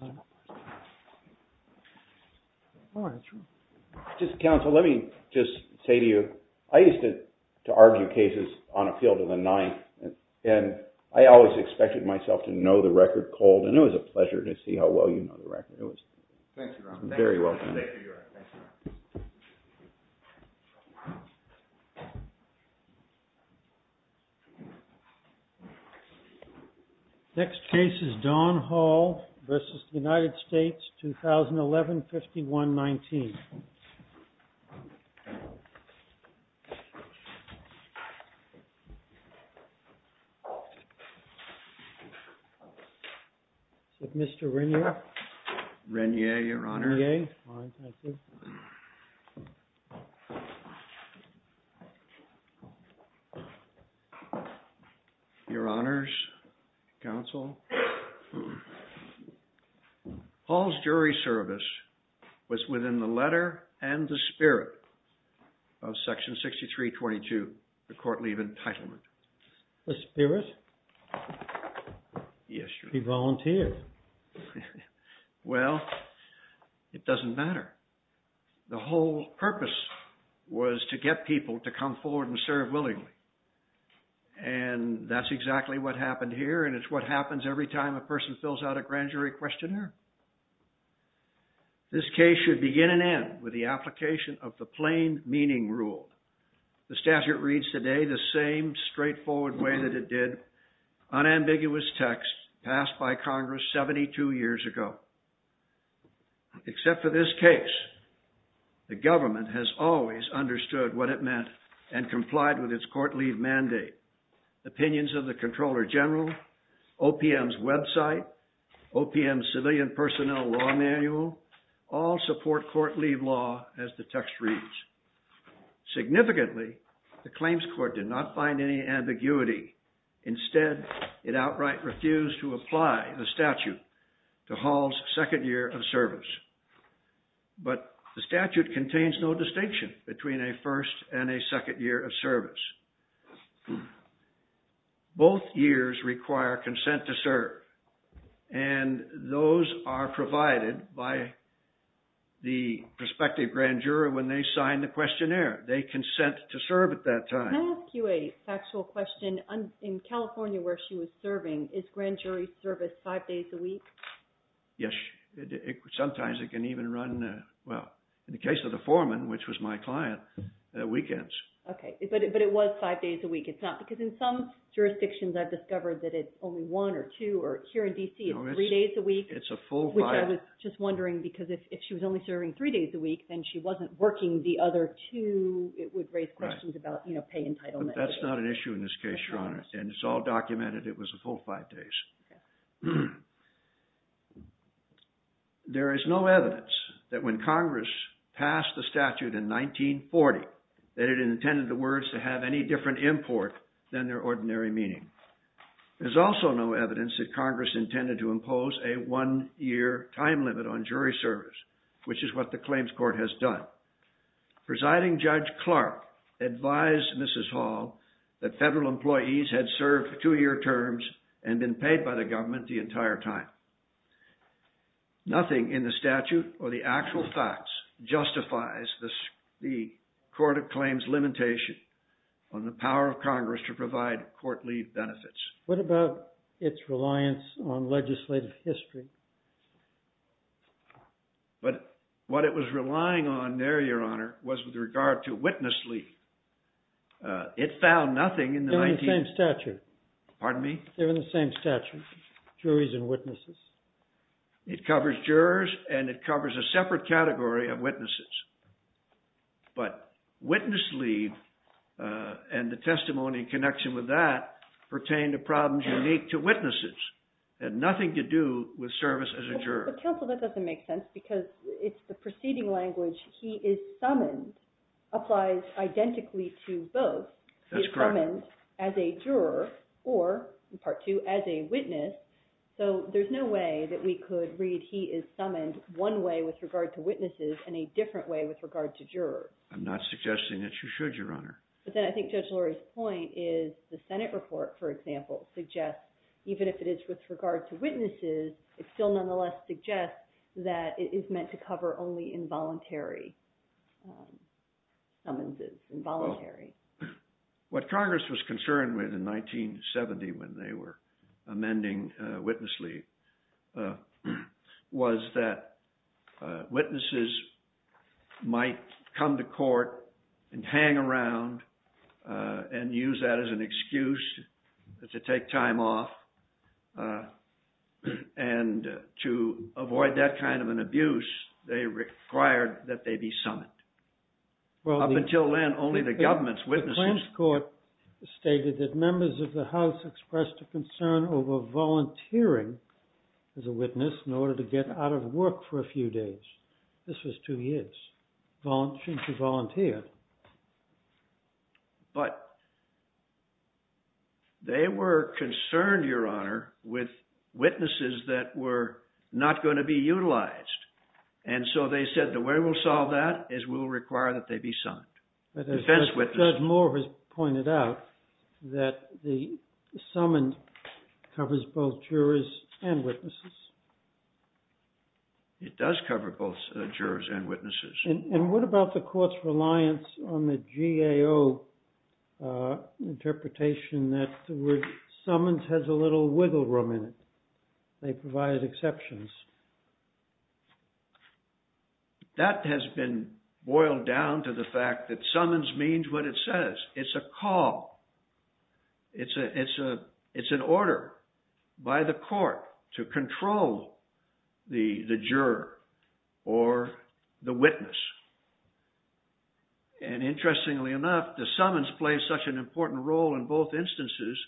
Court of Appeals. I'll hand it over to John. All right. That's right. Just counsel, let me just say to you, I used to argue cases on a field of the Ninth, and I always expected myself to know the record cold, and it was a pleasure to see how well you know the record. It was very well done. Thank you, John. Thank you, York. Thank you, John. Next case is Don Hall v. United States, 2011-51-19. Is it Mr. Regnier? Regnier, Your Honor. All right, thank you. Your Honors, counsel, Hall's jury service was within the letter and the spirit of Section 63-22, the court leave entitlement. The spirit? Yes, Your Honor. He volunteered. Well, it doesn't matter. The whole purpose was to get people to come forward and serve willingly, and that's exactly what happened here, and it's what happens every time a person fills out a grand jury questionnaire. This case should begin and end with the application of the plain meaning rule. The statute reads today the same straightforward way that it did, unambiguous text passed by Congress 72 years ago. Except for this case, the government has always understood what it meant and complied with its court leave mandate. Opinions of the Comptroller General, OPM's website, OPM's civilian personnel law manual all support court leave law, as the text reads. Significantly, the claims court did not find any ambiguity. Instead, it outright refused to apply the statute to Hall's second year of service. But the statute contains no distinction between a first and a second year of service. Both years require consent to serve, and those are provided by the prospective grand juror when they sign the questionnaire. They consent to serve at that time. Can I ask you a factual question? In California where she was serving, is grand jury service five days a week? Yes. Sometimes it can even run, well, in the case of the foreman, which was my client, weekends. Okay. But it was five days a week? It's not? Because in some jurisdictions I've discovered that it's only one or two, or here in D.C. it's three days a week. No, it's a full five. Which I was just wondering, because if she was only serving three days a week, then she That's not an issue in this case, Your Honor, and it's all documented it was a full five days. There is no evidence that when Congress passed the statute in 1940 that it intended the words to have any different import than their ordinary meaning. There's also no evidence that Congress intended to impose a one-year time limit on jury service, which is what the claims court has done. Presiding Judge Clark advised Mrs. Hall that federal employees had served two-year terms and been paid by the government the entire time. Nothing in the statute or the actual facts justifies the court of claims limitation on the power of Congress to provide court-leave benefits. What about its reliance on legislative history? But what it was relying on there, Your Honor, was with regard to witness-leave. It found nothing in the 19- They're in the same statute. Pardon me? They're in the same statute, juries and witnesses. It covers jurors, and it covers a separate category of witnesses. But witness-leave and the testimony in connection with that pertain to problems unique to witnesses had nothing to do with service as a juror. But counsel, that doesn't make sense because it's the preceding language, he is summoned, applies identically to both. That's correct. He is summoned as a juror or, in part two, as a witness, so there's no way that we could read he is summoned one way with regard to witnesses and a different way with regard to jurors. I'm not suggesting that you should, Your Honor. But then I think Judge Lurie's point is the Senate report, for example, suggests even if it is with regard to witnesses, it still nonetheless suggests that it is meant to cover only involuntary summonses, involuntary. What Congress was concerned with in 1970 when they were amending witness-leave was that witnesses might come to court and hang around and use that as an excuse to take time off and to avoid that kind of an abuse, they required that they be summoned. Well, up until then, only the government's witnesses. The Plans Court stated that members of the House expressed a concern over volunteering as a witness in order to get out of work for a few days. This was two years, volunteering to volunteer. But they were concerned, Your Honor, with witnesses that were not going to be utilized. And so they said the way we'll solve that is we'll require that they be summoned. But as Judge Moore has pointed out, that the summons covers both jurors and witnesses. It does cover both jurors and witnesses. And what about the court's reliance on the GAO interpretation that the word summons has a little wiggle room in it? They provide exceptions. That has been boiled down to the fact that summons means what it says. It's a call. It's an order by the court to control the juror or the witness. And interestingly enough, the summons plays such an important role in both instances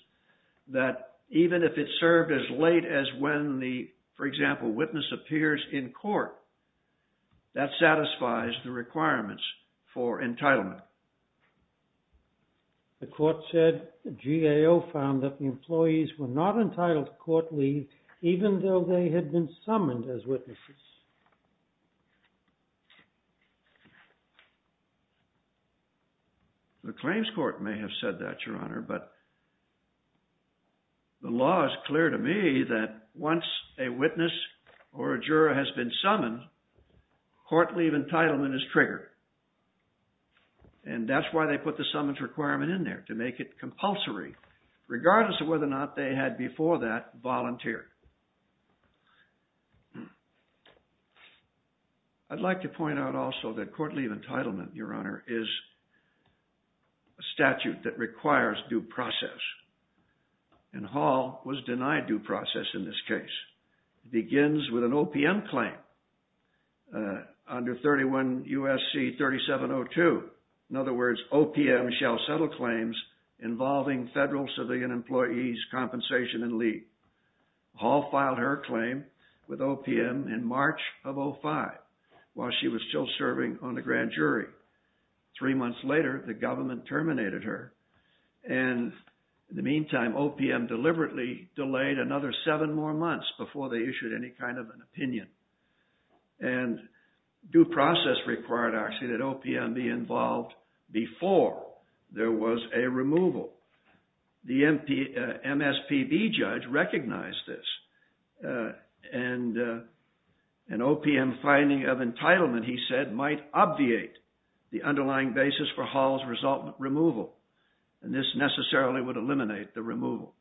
that even if it's served as late as when the, for example, witness appears in court, that satisfies the requirements for entitlement. The court said the GAO found that the employees were not entitled to court leave even though they had been summoned as witnesses. The claims court may have said that, Your Honor, but the law is clear to me that once a witness or a juror has been summoned, court leave entitlement is triggered. And that's why they put the summons requirement in there, to make it compulsory, regardless of whether or not they had before that volunteered. I'd like to point out also that court leave entitlement, Your Honor, is a statute that requires due process. And Hall was denied due process in this case. It begins with an OPM claim under 31 U.S.C. 3702. In other words, OPM shall settle claims involving federal civilian employees' compensation and leave. Hall filed her claim with OPM in March of 05, while she was still serving on the grand jury. Three months later, the government terminated her. And in the meantime, OPM deliberately delayed another seven more months before they issued any kind of an opinion. And due process required, actually, that OPM be involved before there was a removal. The MSPB judge recognized this. And an OPM finding of entitlement, he said, might obviate the underlying basis for Hall's resultant removal. And this necessarily would eliminate the removal.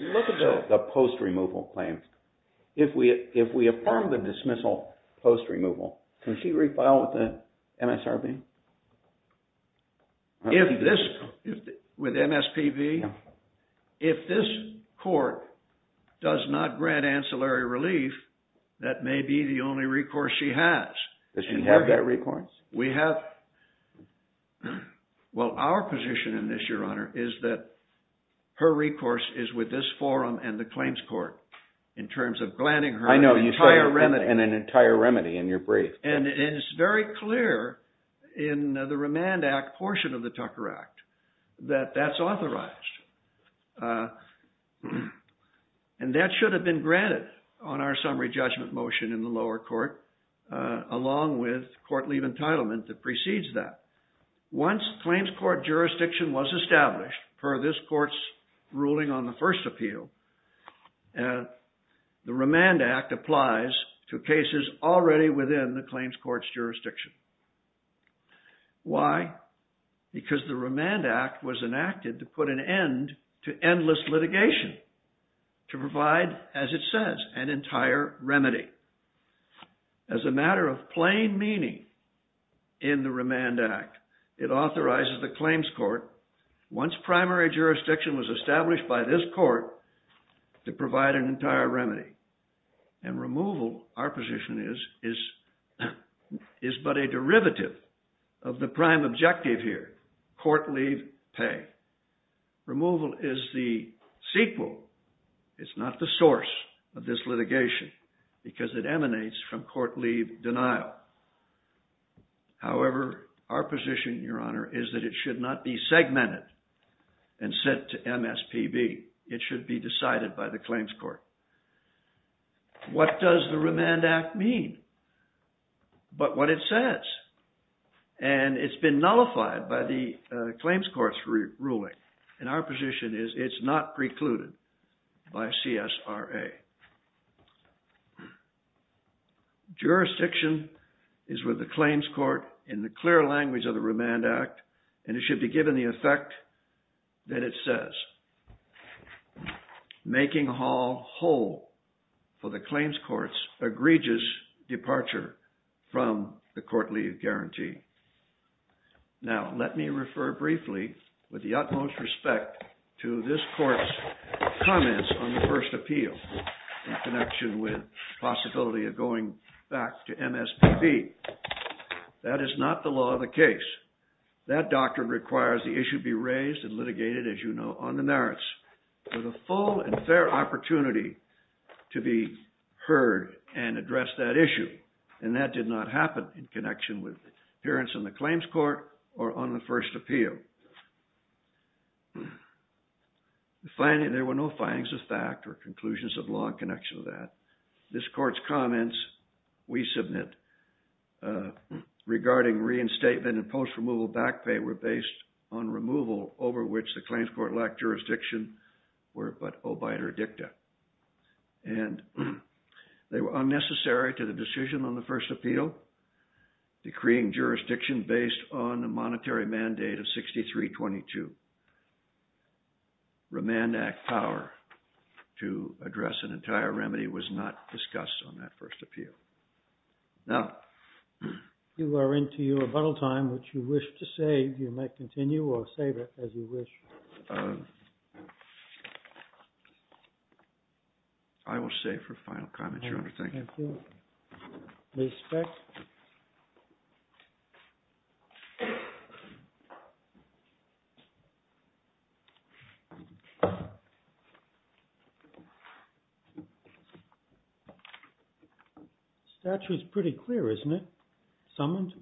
Look at the post-removal claims. If we affirm the dismissal post-removal, can she refile with the MSRB? With MSPB? If this court does not grant ancillary relief, that may be the only recourse she has. Does she have that recourse? Well, our position in this, Your Honor, is that her recourse is with this forum and the claims court, in terms of granting her an entire remedy. I know, you said an entire remedy in your brief. And it's very clear in the Remand Act portion of the Tucker Act that that's authorized. And that should have been granted on our summary judgment motion in the lower court, along with court leave entitlement that precedes that. Once claims court jurisdiction was established, per this court's ruling on the first appeal, the Remand Act applies to cases already within the claims court's jurisdiction. Why? Because the Remand Act was enacted to put an end to endless litigation, to provide, as it says, an entire remedy. As a matter of plain meaning in the Remand Act, it authorizes the claims court, once primary jurisdiction was established by this court, to provide an entire remedy. And removal, our position is, is but a derivative of the prime objective here, court leave pay. Removal is the sequel. It's not the source of this litigation, because it emanates from court leave denial. However, our position, Your Honor, is that it should not be segmented and sent to MSPB. It should be decided by the claims court. What does the Remand Act mean? But what it says. And it's been nullified by the claims court's ruling, and our position is it's not precluded by CSRA. Jurisdiction is with the claims court in the clear language of the Remand Act, and it should be given the effect that it says. Making Hall whole for the claims court's egregious departure from the court leave guarantee. Now, let me refer briefly, with the utmost respect, to this court's comments on the first appeal, in connection with the possibility of going back to MSPB. That is not the law of the case. That doctrine requires the issue be raised and litigated, as you know, on the merits, with a full and fair opportunity to be heard and address that issue. And that did not happen in connection with the appearance in the claims court or on the first appeal. There were no findings of fact or conclusions of law in connection with that. This court's comments, we submit, regarding reinstatement and post-removal back pay were based on removal over which the claims court lacked jurisdiction were but obiter dicta. And they were unnecessary to the decision on the first appeal, decreeing jurisdiction based on the monetary mandate of 6322. Remand Act power to address an entire remedy was not discussed on that first appeal. Now, if you are into your rebuttal time, which you wish to save, you may continue or save it as you wish. I will save for final comments, Your Honor. Thank you. Thank you. Ms. Speck? The statute is pretty clear, isn't it? Summoned?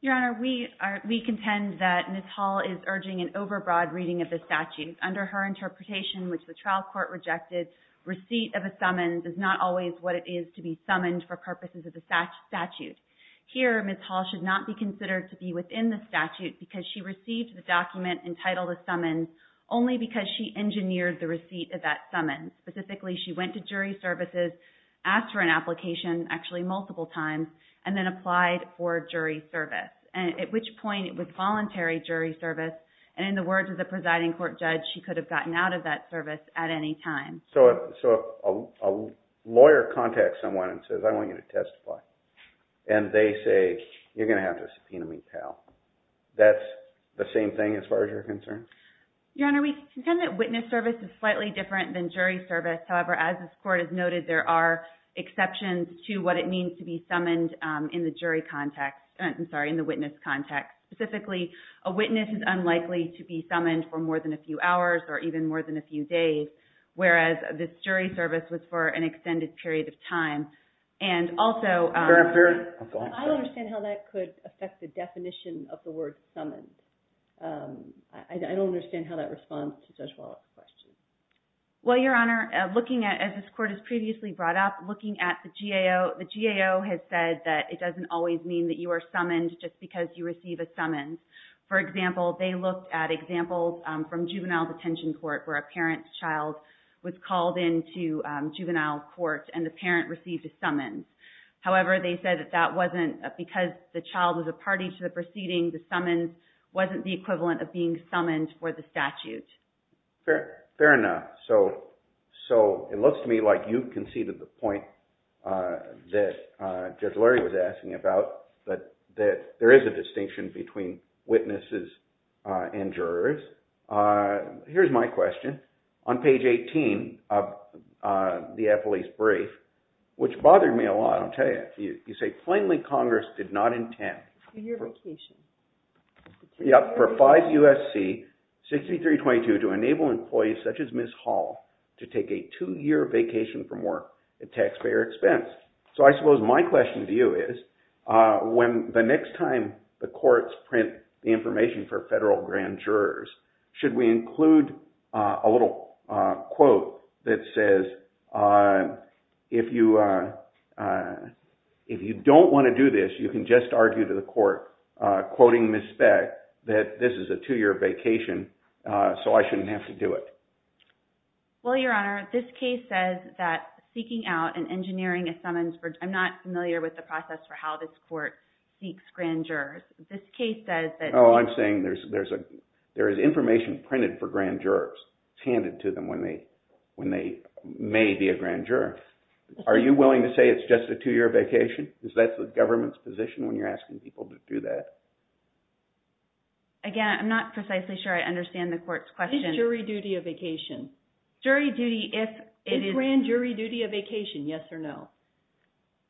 Your Honor, we contend that Ms. Hall is urging an overbroad reading of the statute. Under her interpretation, which the trial court rejected, receipt of a summons is not always what it is to be summoned for purposes of the statute. Here, Ms. Hall should not be considered to be within the statute because she received the document entitled a summons only because she engineered the receipt of that summons. Specifically, she went to jury services, asked for an application, actually multiple times, and then applied for jury service. At which point, it was voluntary jury service, and in the words of the presiding court judge, she could have gotten out of that service at any time. So a lawyer contacts someone and says, I want you to testify. And they say, you're going to have to subpoena me, pal. That's the same thing as far as you're concerned? Your Honor, we contend that witness service is slightly different than jury service. However, as this court has noted, there are exceptions to what it means to be summoned in the jury context, I'm sorry, in the witness context. Specifically, a witness is unlikely to be summoned for more than a few hours or even more than a few days, whereas this jury service was for an extended period of time. And also, I don't understand how that could affect the definition of the word summoned. I don't understand how that responds to Judge Wallach's question. Well, Your Honor, looking at, as this court has previously brought up, looking at the GAO, the GAO has said that it doesn't always mean that you are summoned just because you receive a summons. For example, they looked at examples from juvenile detention court where a parent's child was called into juvenile court and the parent received a summons. However, they said that that wasn't, because the child was a party to the proceeding, the summons wasn't the equivalent of being summoned for the statute. Fair enough. So it looks to me like you conceded the point that Judge Lurie was asking about, that there is a distinction between witnesses and jurors. Here's my question. On page 18 of the appellee's brief, which bothered me a lot, I'll tell you, you say plainly Congress did not intend… For your vocation. Yep, for 5 U.S.C. 6322 to enable employees such as Ms. Hall to take a two-year vacation from work at taxpayer expense. So I suppose my question to you is, when the next time the courts print the information for federal grand jurors, should we include a little quote that says, if you don't want to do this, you can just argue to the court, quoting Ms. Speck, that this is a two-year vacation, so I shouldn't have to do it. Well, Your Honor, this case says that seeking out and engineering a summons for… I'm not familiar with the process for how this court seeks grand jurors. This case says that… Oh, I'm saying there is information printed for grand jurors handed to them when they may be a grand juror. Are you willing to say it's just a two-year vacation? Is that the government's position when you're asking people to do that? Again, I'm not precisely sure I understand the court's question. Is grand jury duty a vacation? Jury duty, if it is… Is grand jury duty a vacation, yes or no?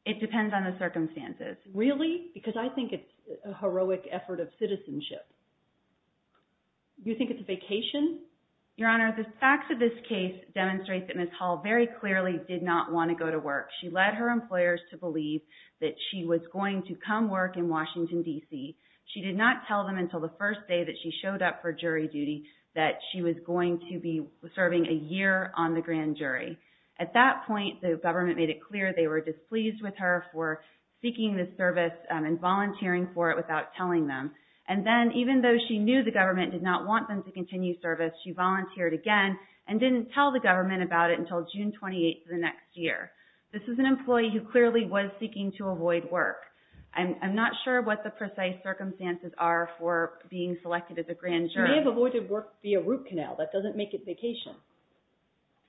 It depends on the circumstances. Really? Because I think it's a heroic effort of citizenship. You think it's a vacation? Your Honor, the facts of this case demonstrate that Ms. Hall very clearly did not want to go to work. She led her employers to believe that she was going to come work in Washington, D.C. She did not tell them until the first day that she showed up for jury duty that she was going to be serving a year on the grand jury. At that point, the government made it clear they were displeased with her for seeking this service and volunteering for it without telling them. And then, even though she knew the government did not want them to continue service, she volunteered again and didn't tell the government about it until June 28th of the next year. This is an employee who clearly was seeking to avoid work. I'm not sure what the precise circumstances are for being selected as a grand jury. She may have avoided work via root canal. That doesn't make it vacation.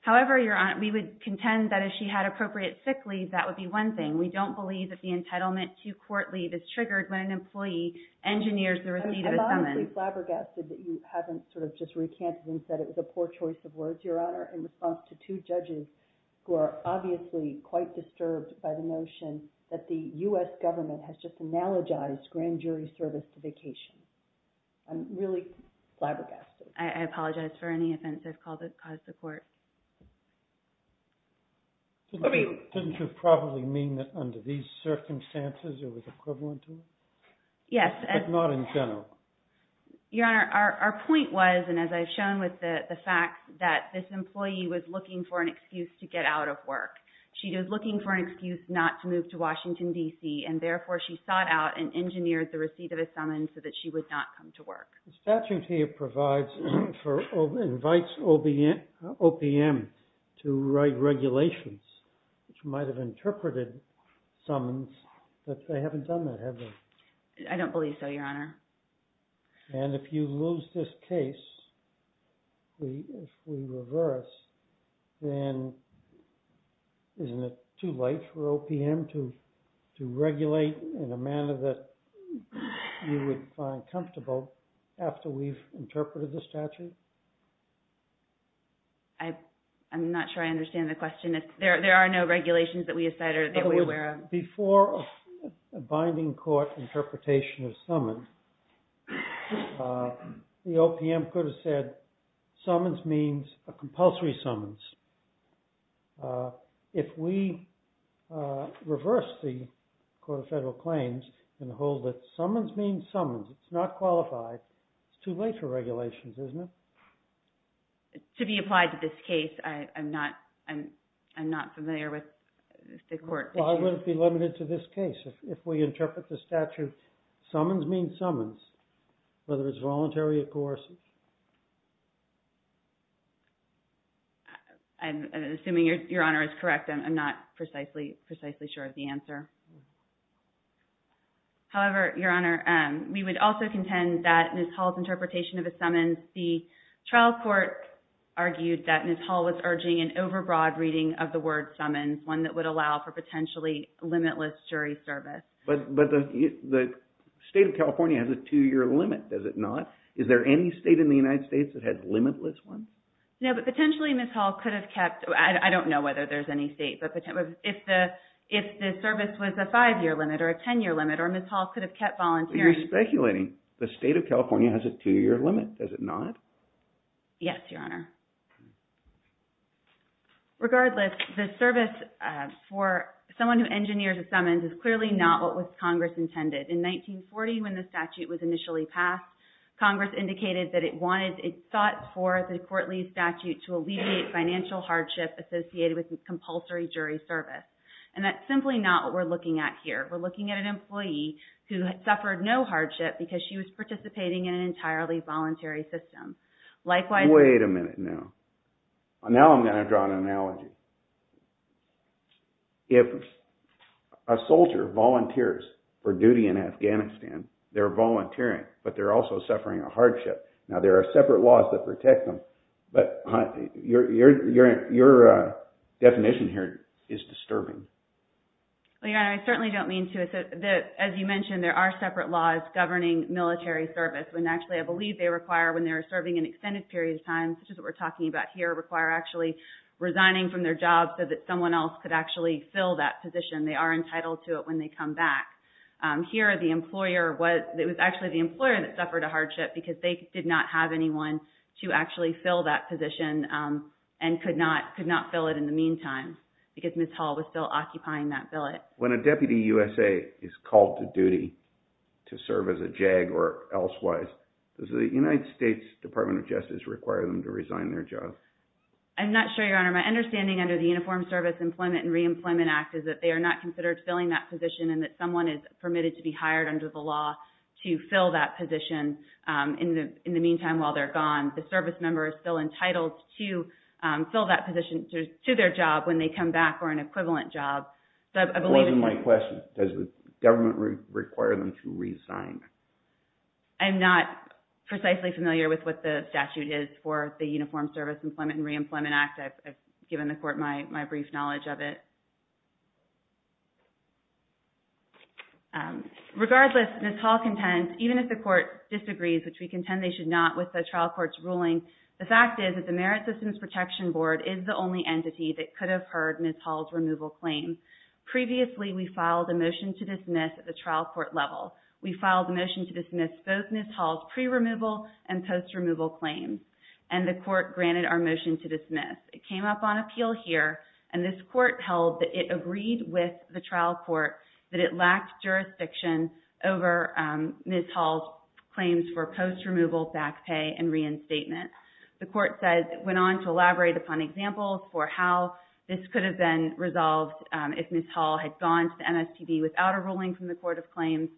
However, Your Honor, we would contend that if she had appropriate sick leave, that would be one thing. We don't believe that the entitlement to court leave is triggered when an employee engineers the receipt of a summons. I'm really flabbergasted that you haven't sort of just recanted and said it was a poor choice of words, Your Honor, in response to two judges who are obviously quite disturbed by the notion that the U.S. government has just analogized grand jury service to vacation. I'm really flabbergasted. I apologize for any offense I've caused the court. Didn't you probably mean that under these circumstances it was equivalent to it? Yes. But not in general. Your Honor, our point was, and as I've shown with the facts, that this employee was looking for an excuse to get out of work. She was looking for an excuse not to move to Washington, D.C., and therefore she sought out and engineered the receipt of a summons so that she would not come to work. The statute here invites OPM to write regulations which might have interpreted summons, but they haven't done that, have they? I don't believe so, Your Honor. And if you lose this case, if we reverse, then isn't it too late for OPM to regulate in a manner that you would find comfortable after we've interpreted the statute? I'm not sure I understand the question. There are no regulations that we have cited that we're aware of. Before a binding court interpretation of summons, the OPM could have said summons means a compulsory summons. If we reverse the Court of Federal Claims and hold that summons means summons, it's not qualified, it's too late for regulations, isn't it? To be applied to this case, I'm not familiar with the court. Well, I wouldn't be limited to this case. If we interpret the statute, summons means summons, whether it's voluntary or coercive. I'm assuming Your Honor is correct. I'm not precisely sure of the answer. However, Your Honor, we would also contend that Ms. Hall's interpretation of a summons, the trial court argued that Ms. Hall was urging an overbroad reading of the word summons, one that would allow for potentially limitless jury service. But the state of California has a two-year limit, does it not? Is there any state in the United States that has limitless one? No, but potentially Ms. Hall could have kept, I don't know whether there's any state, but if the service was a five-year limit or a ten-year limit, or Ms. Hall could have kept volunteering. But you're speculating the state of California has a two-year limit, does it not? Yes, Your Honor. Regardless, the service for someone who engineers a summons is clearly not what was Congress intended. In 1940, when the statute was initially passed, Congress indicated that it wanted, it sought for the court-leased statute to alleviate financial hardship associated with compulsory jury service. And that's simply not what we're looking at here. We're looking at an employee who had suffered no hardship because she was participating in an entirely voluntary system. Wait a minute now. Now I'm going to draw an analogy. If a soldier volunteers for duty in Afghanistan, they're volunteering, but they're also suffering a hardship. Now there are separate laws that protect them, but your definition here is disturbing. Well, Your Honor, I certainly don't mean to. As you mentioned, there are separate laws governing military service. Actually, I believe they require when they're serving an extended period of time, such as what we're talking about here, require actually resigning from their job so that someone else could actually fill that position. They are entitled to it when they come back. Here, it was actually the employer that suffered a hardship because they did not have anyone to actually fill that position and could not fill it in the meantime because Ms. Hall was still occupying that billet. When a deputy USA is called to duty to serve as a JAG or elsewise, does the United States Department of Justice require them to resign their job? I'm not sure, Your Honor. My understanding under the Uniformed Service Employment and Reemployment Act is that they are not considered filling that position and that someone is permitted to be hired under the law to fill that position in the meantime while they're gone. The service member is still entitled to fill that position to their job when they come back or an equivalent job. That wasn't my question. Does the government require them to resign? I'm not precisely familiar with what the statute is for the Uniformed Service Employment and Reemployment Act. I've given the court my brief knowledge of it. Regardless, Ms. Hall contends, even if the court disagrees, which we contend they should not with the trial court's ruling, the fact is that the Merit Systems Protection Board is the only entity that could have heard Ms. Hall's removal claim. Previously, we filed a motion to dismiss at the trial court level. We filed a motion to dismiss both Ms. Hall's pre-removal and post-removal claims, and the court granted our motion to dismiss. It came up on appeal here, and this court held that it agreed with the trial court that it lacked jurisdiction over Ms. Hall's claims for post-removal back pay and reinstatement. The court went on to elaborate upon examples for how this could have been resolved if Ms. Hall had gone to the MSTB without a ruling from the Court of Claims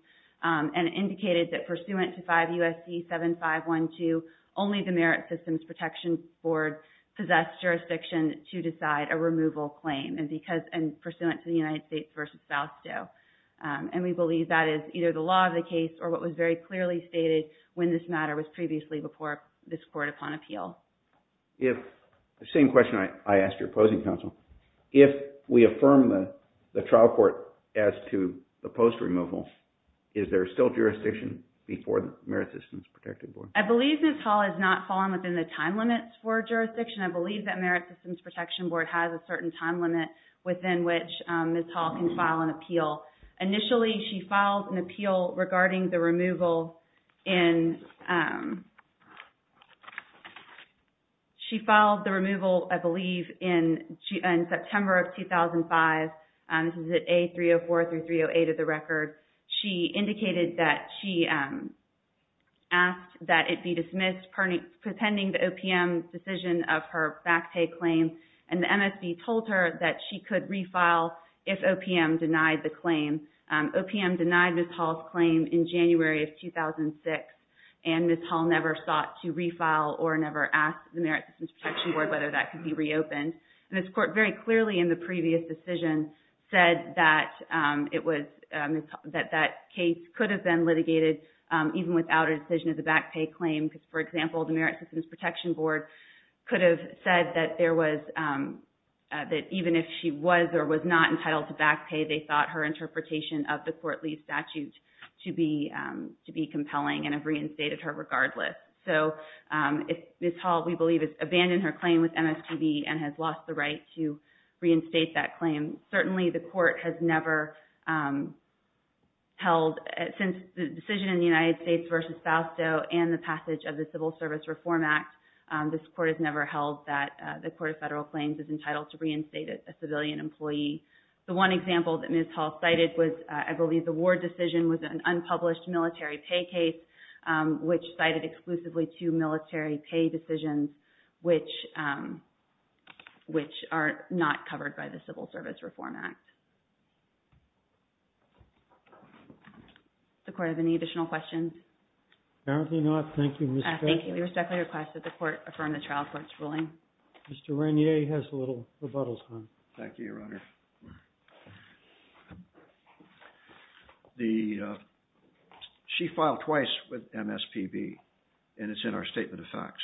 and indicated that pursuant to 5 U.S.C. 7512, only the Merit Systems Protection Board possessed jurisdiction to decide a removal claim pursuant to the United States v. Fausto. We believe that is either the law of the case or what was very clearly stated when this matter was previously before this court upon appeal. The same question I asked your opposing counsel. If we affirm the trial court as to the post-removal, is there still jurisdiction before the Merit Systems Protection Board? I believe Ms. Hall has not fallen within the time limits for jurisdiction. I believe that Merit Systems Protection Board has a certain time limit within which Ms. Hall can file an appeal. Initially, she filed an appeal regarding the removal in September of 2005. This is at A-304 through A-308 of the record. She indicated that she asked that it be dismissed pending the OPM's decision of her back pay claim. The MSB told her that she could refile if OPM denied the claim. OPM denied Ms. Hall's claim in January of 2006. Ms. Hall never sought to refile or never asked the Merit Systems Protection Board whether that could be reopened. This court very clearly in the previous decision said that that case could have been litigated even without a decision of the back pay claim. For example, the Merit Systems Protection Board could have said that even if she was or was not entitled to back pay, they thought her interpretation of the court leave statute to be compelling and have reinstated her regardless. Ms. Hall, we believe, has abandoned her claim with MSTB and has lost the right to reinstate that claim. Certainly, the court has never held, since the decision in the United States versus Fausto and the passage of the Civil Service Reform Act, this court has never held that the court of federal claims is entitled to reinstate a civilian employee. The one example that Ms. Hall cited was, I believe, the war decision was an unpublished military pay case, which cited exclusively two military pay decisions, which are not covered by the Civil Service Reform Act. Does the court have any additional questions? Apparently not. Thank you, Ms. Beckley. Thank you, Ms. Beckley. I request that the court affirm the trial court's ruling. Mr. Regnier has a little rebuttal time. Thank you, Your Honor. She filed twice with MSPB, and it's in our statement of facts.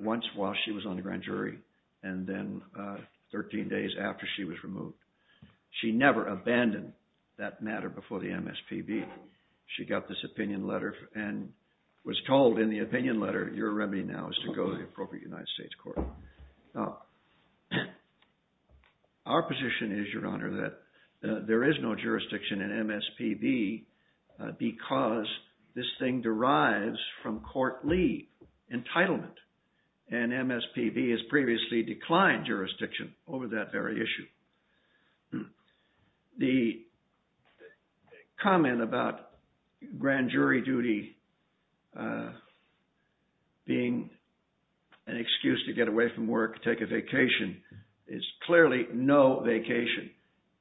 Once while she was on the grand jury, and then 13 days after she was removed. She never abandoned that matter before the MSPB. She got this opinion letter and was told in the opinion letter, your remedy now is to go to the appropriate United States court. Our position is, Your Honor, that there is no jurisdiction in MSPB because this thing derives from court leave, entitlement. And MSPB has previously declined jurisdiction over that very issue. The comment about grand jury duty being an excuse to get away from work, take a vacation, is clearly no vacation.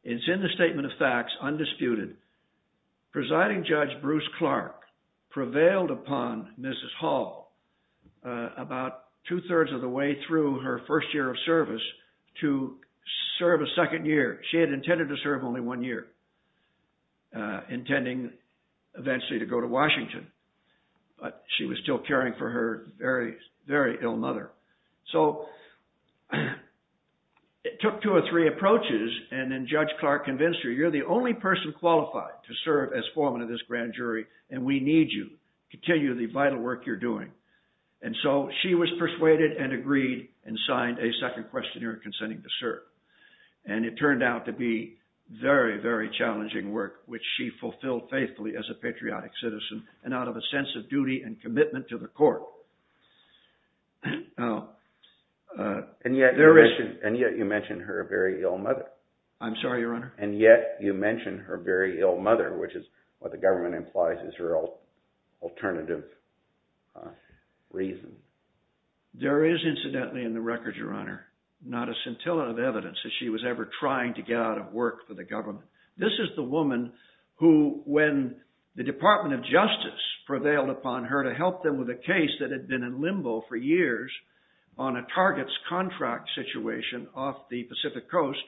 It's in the statement of facts, undisputed. Presiding Judge Bruce Clark prevailed upon Mrs. Hall about two thirds of the way through her first year of service to serve a second year. She had intended to serve only one year, intending eventually to go to Washington, but she was still caring for her very, very ill mother. So it took two or three approaches, and then Judge Clark convinced her, you're the only person qualified to serve as foreman of this grand jury, and we need you to continue the vital work you're doing. And so she was persuaded and agreed and signed a second questionnaire consenting to serve. And it turned out to be very, very challenging work, which she fulfilled faithfully as a patriotic citizen and out of a sense of duty and commitment to the court. And yet you mentioned her very ill mother. I'm sorry, Your Honor? And yet you mentioned her very ill mother, which is what the government implies is her alternative reason. There is incidentally in the record, Your Honor, not a scintillative evidence that she was ever trying to get out of work for the government. This is the woman who, when the Department of Justice prevailed upon her to help them with a case that had been in limbo for years on a targets contract situation off the Pacific coast,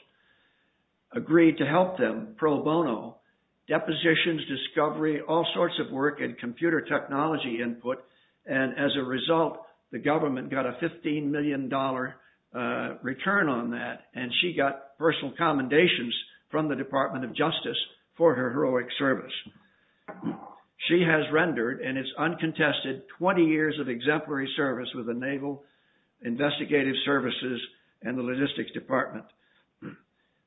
agreed to help them pro bono, depositions, discovery, all sorts of work and computer technology input. And as a result, the government got a $15 million return on that, and she got personal commendations from the Department of Justice for her heroic service. She has rendered in its uncontested 20 years of exemplary service with the Naval Investigative Services and the Logistics Department.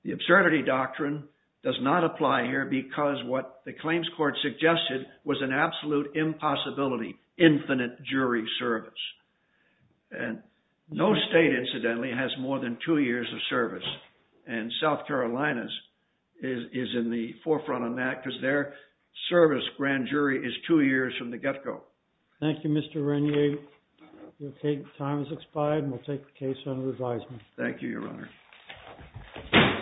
The absurdity doctrine does not apply here because what the claims court suggested was an absolute impossibility, infinite jury service. And no state, incidentally, has more than two years of service. And South Carolina is in the forefront on that because their service grand jury is two years from the get-go. Thank you, Mr. Renier. The time has expired, and we'll take the case under advisement. Thank you, Your Honor.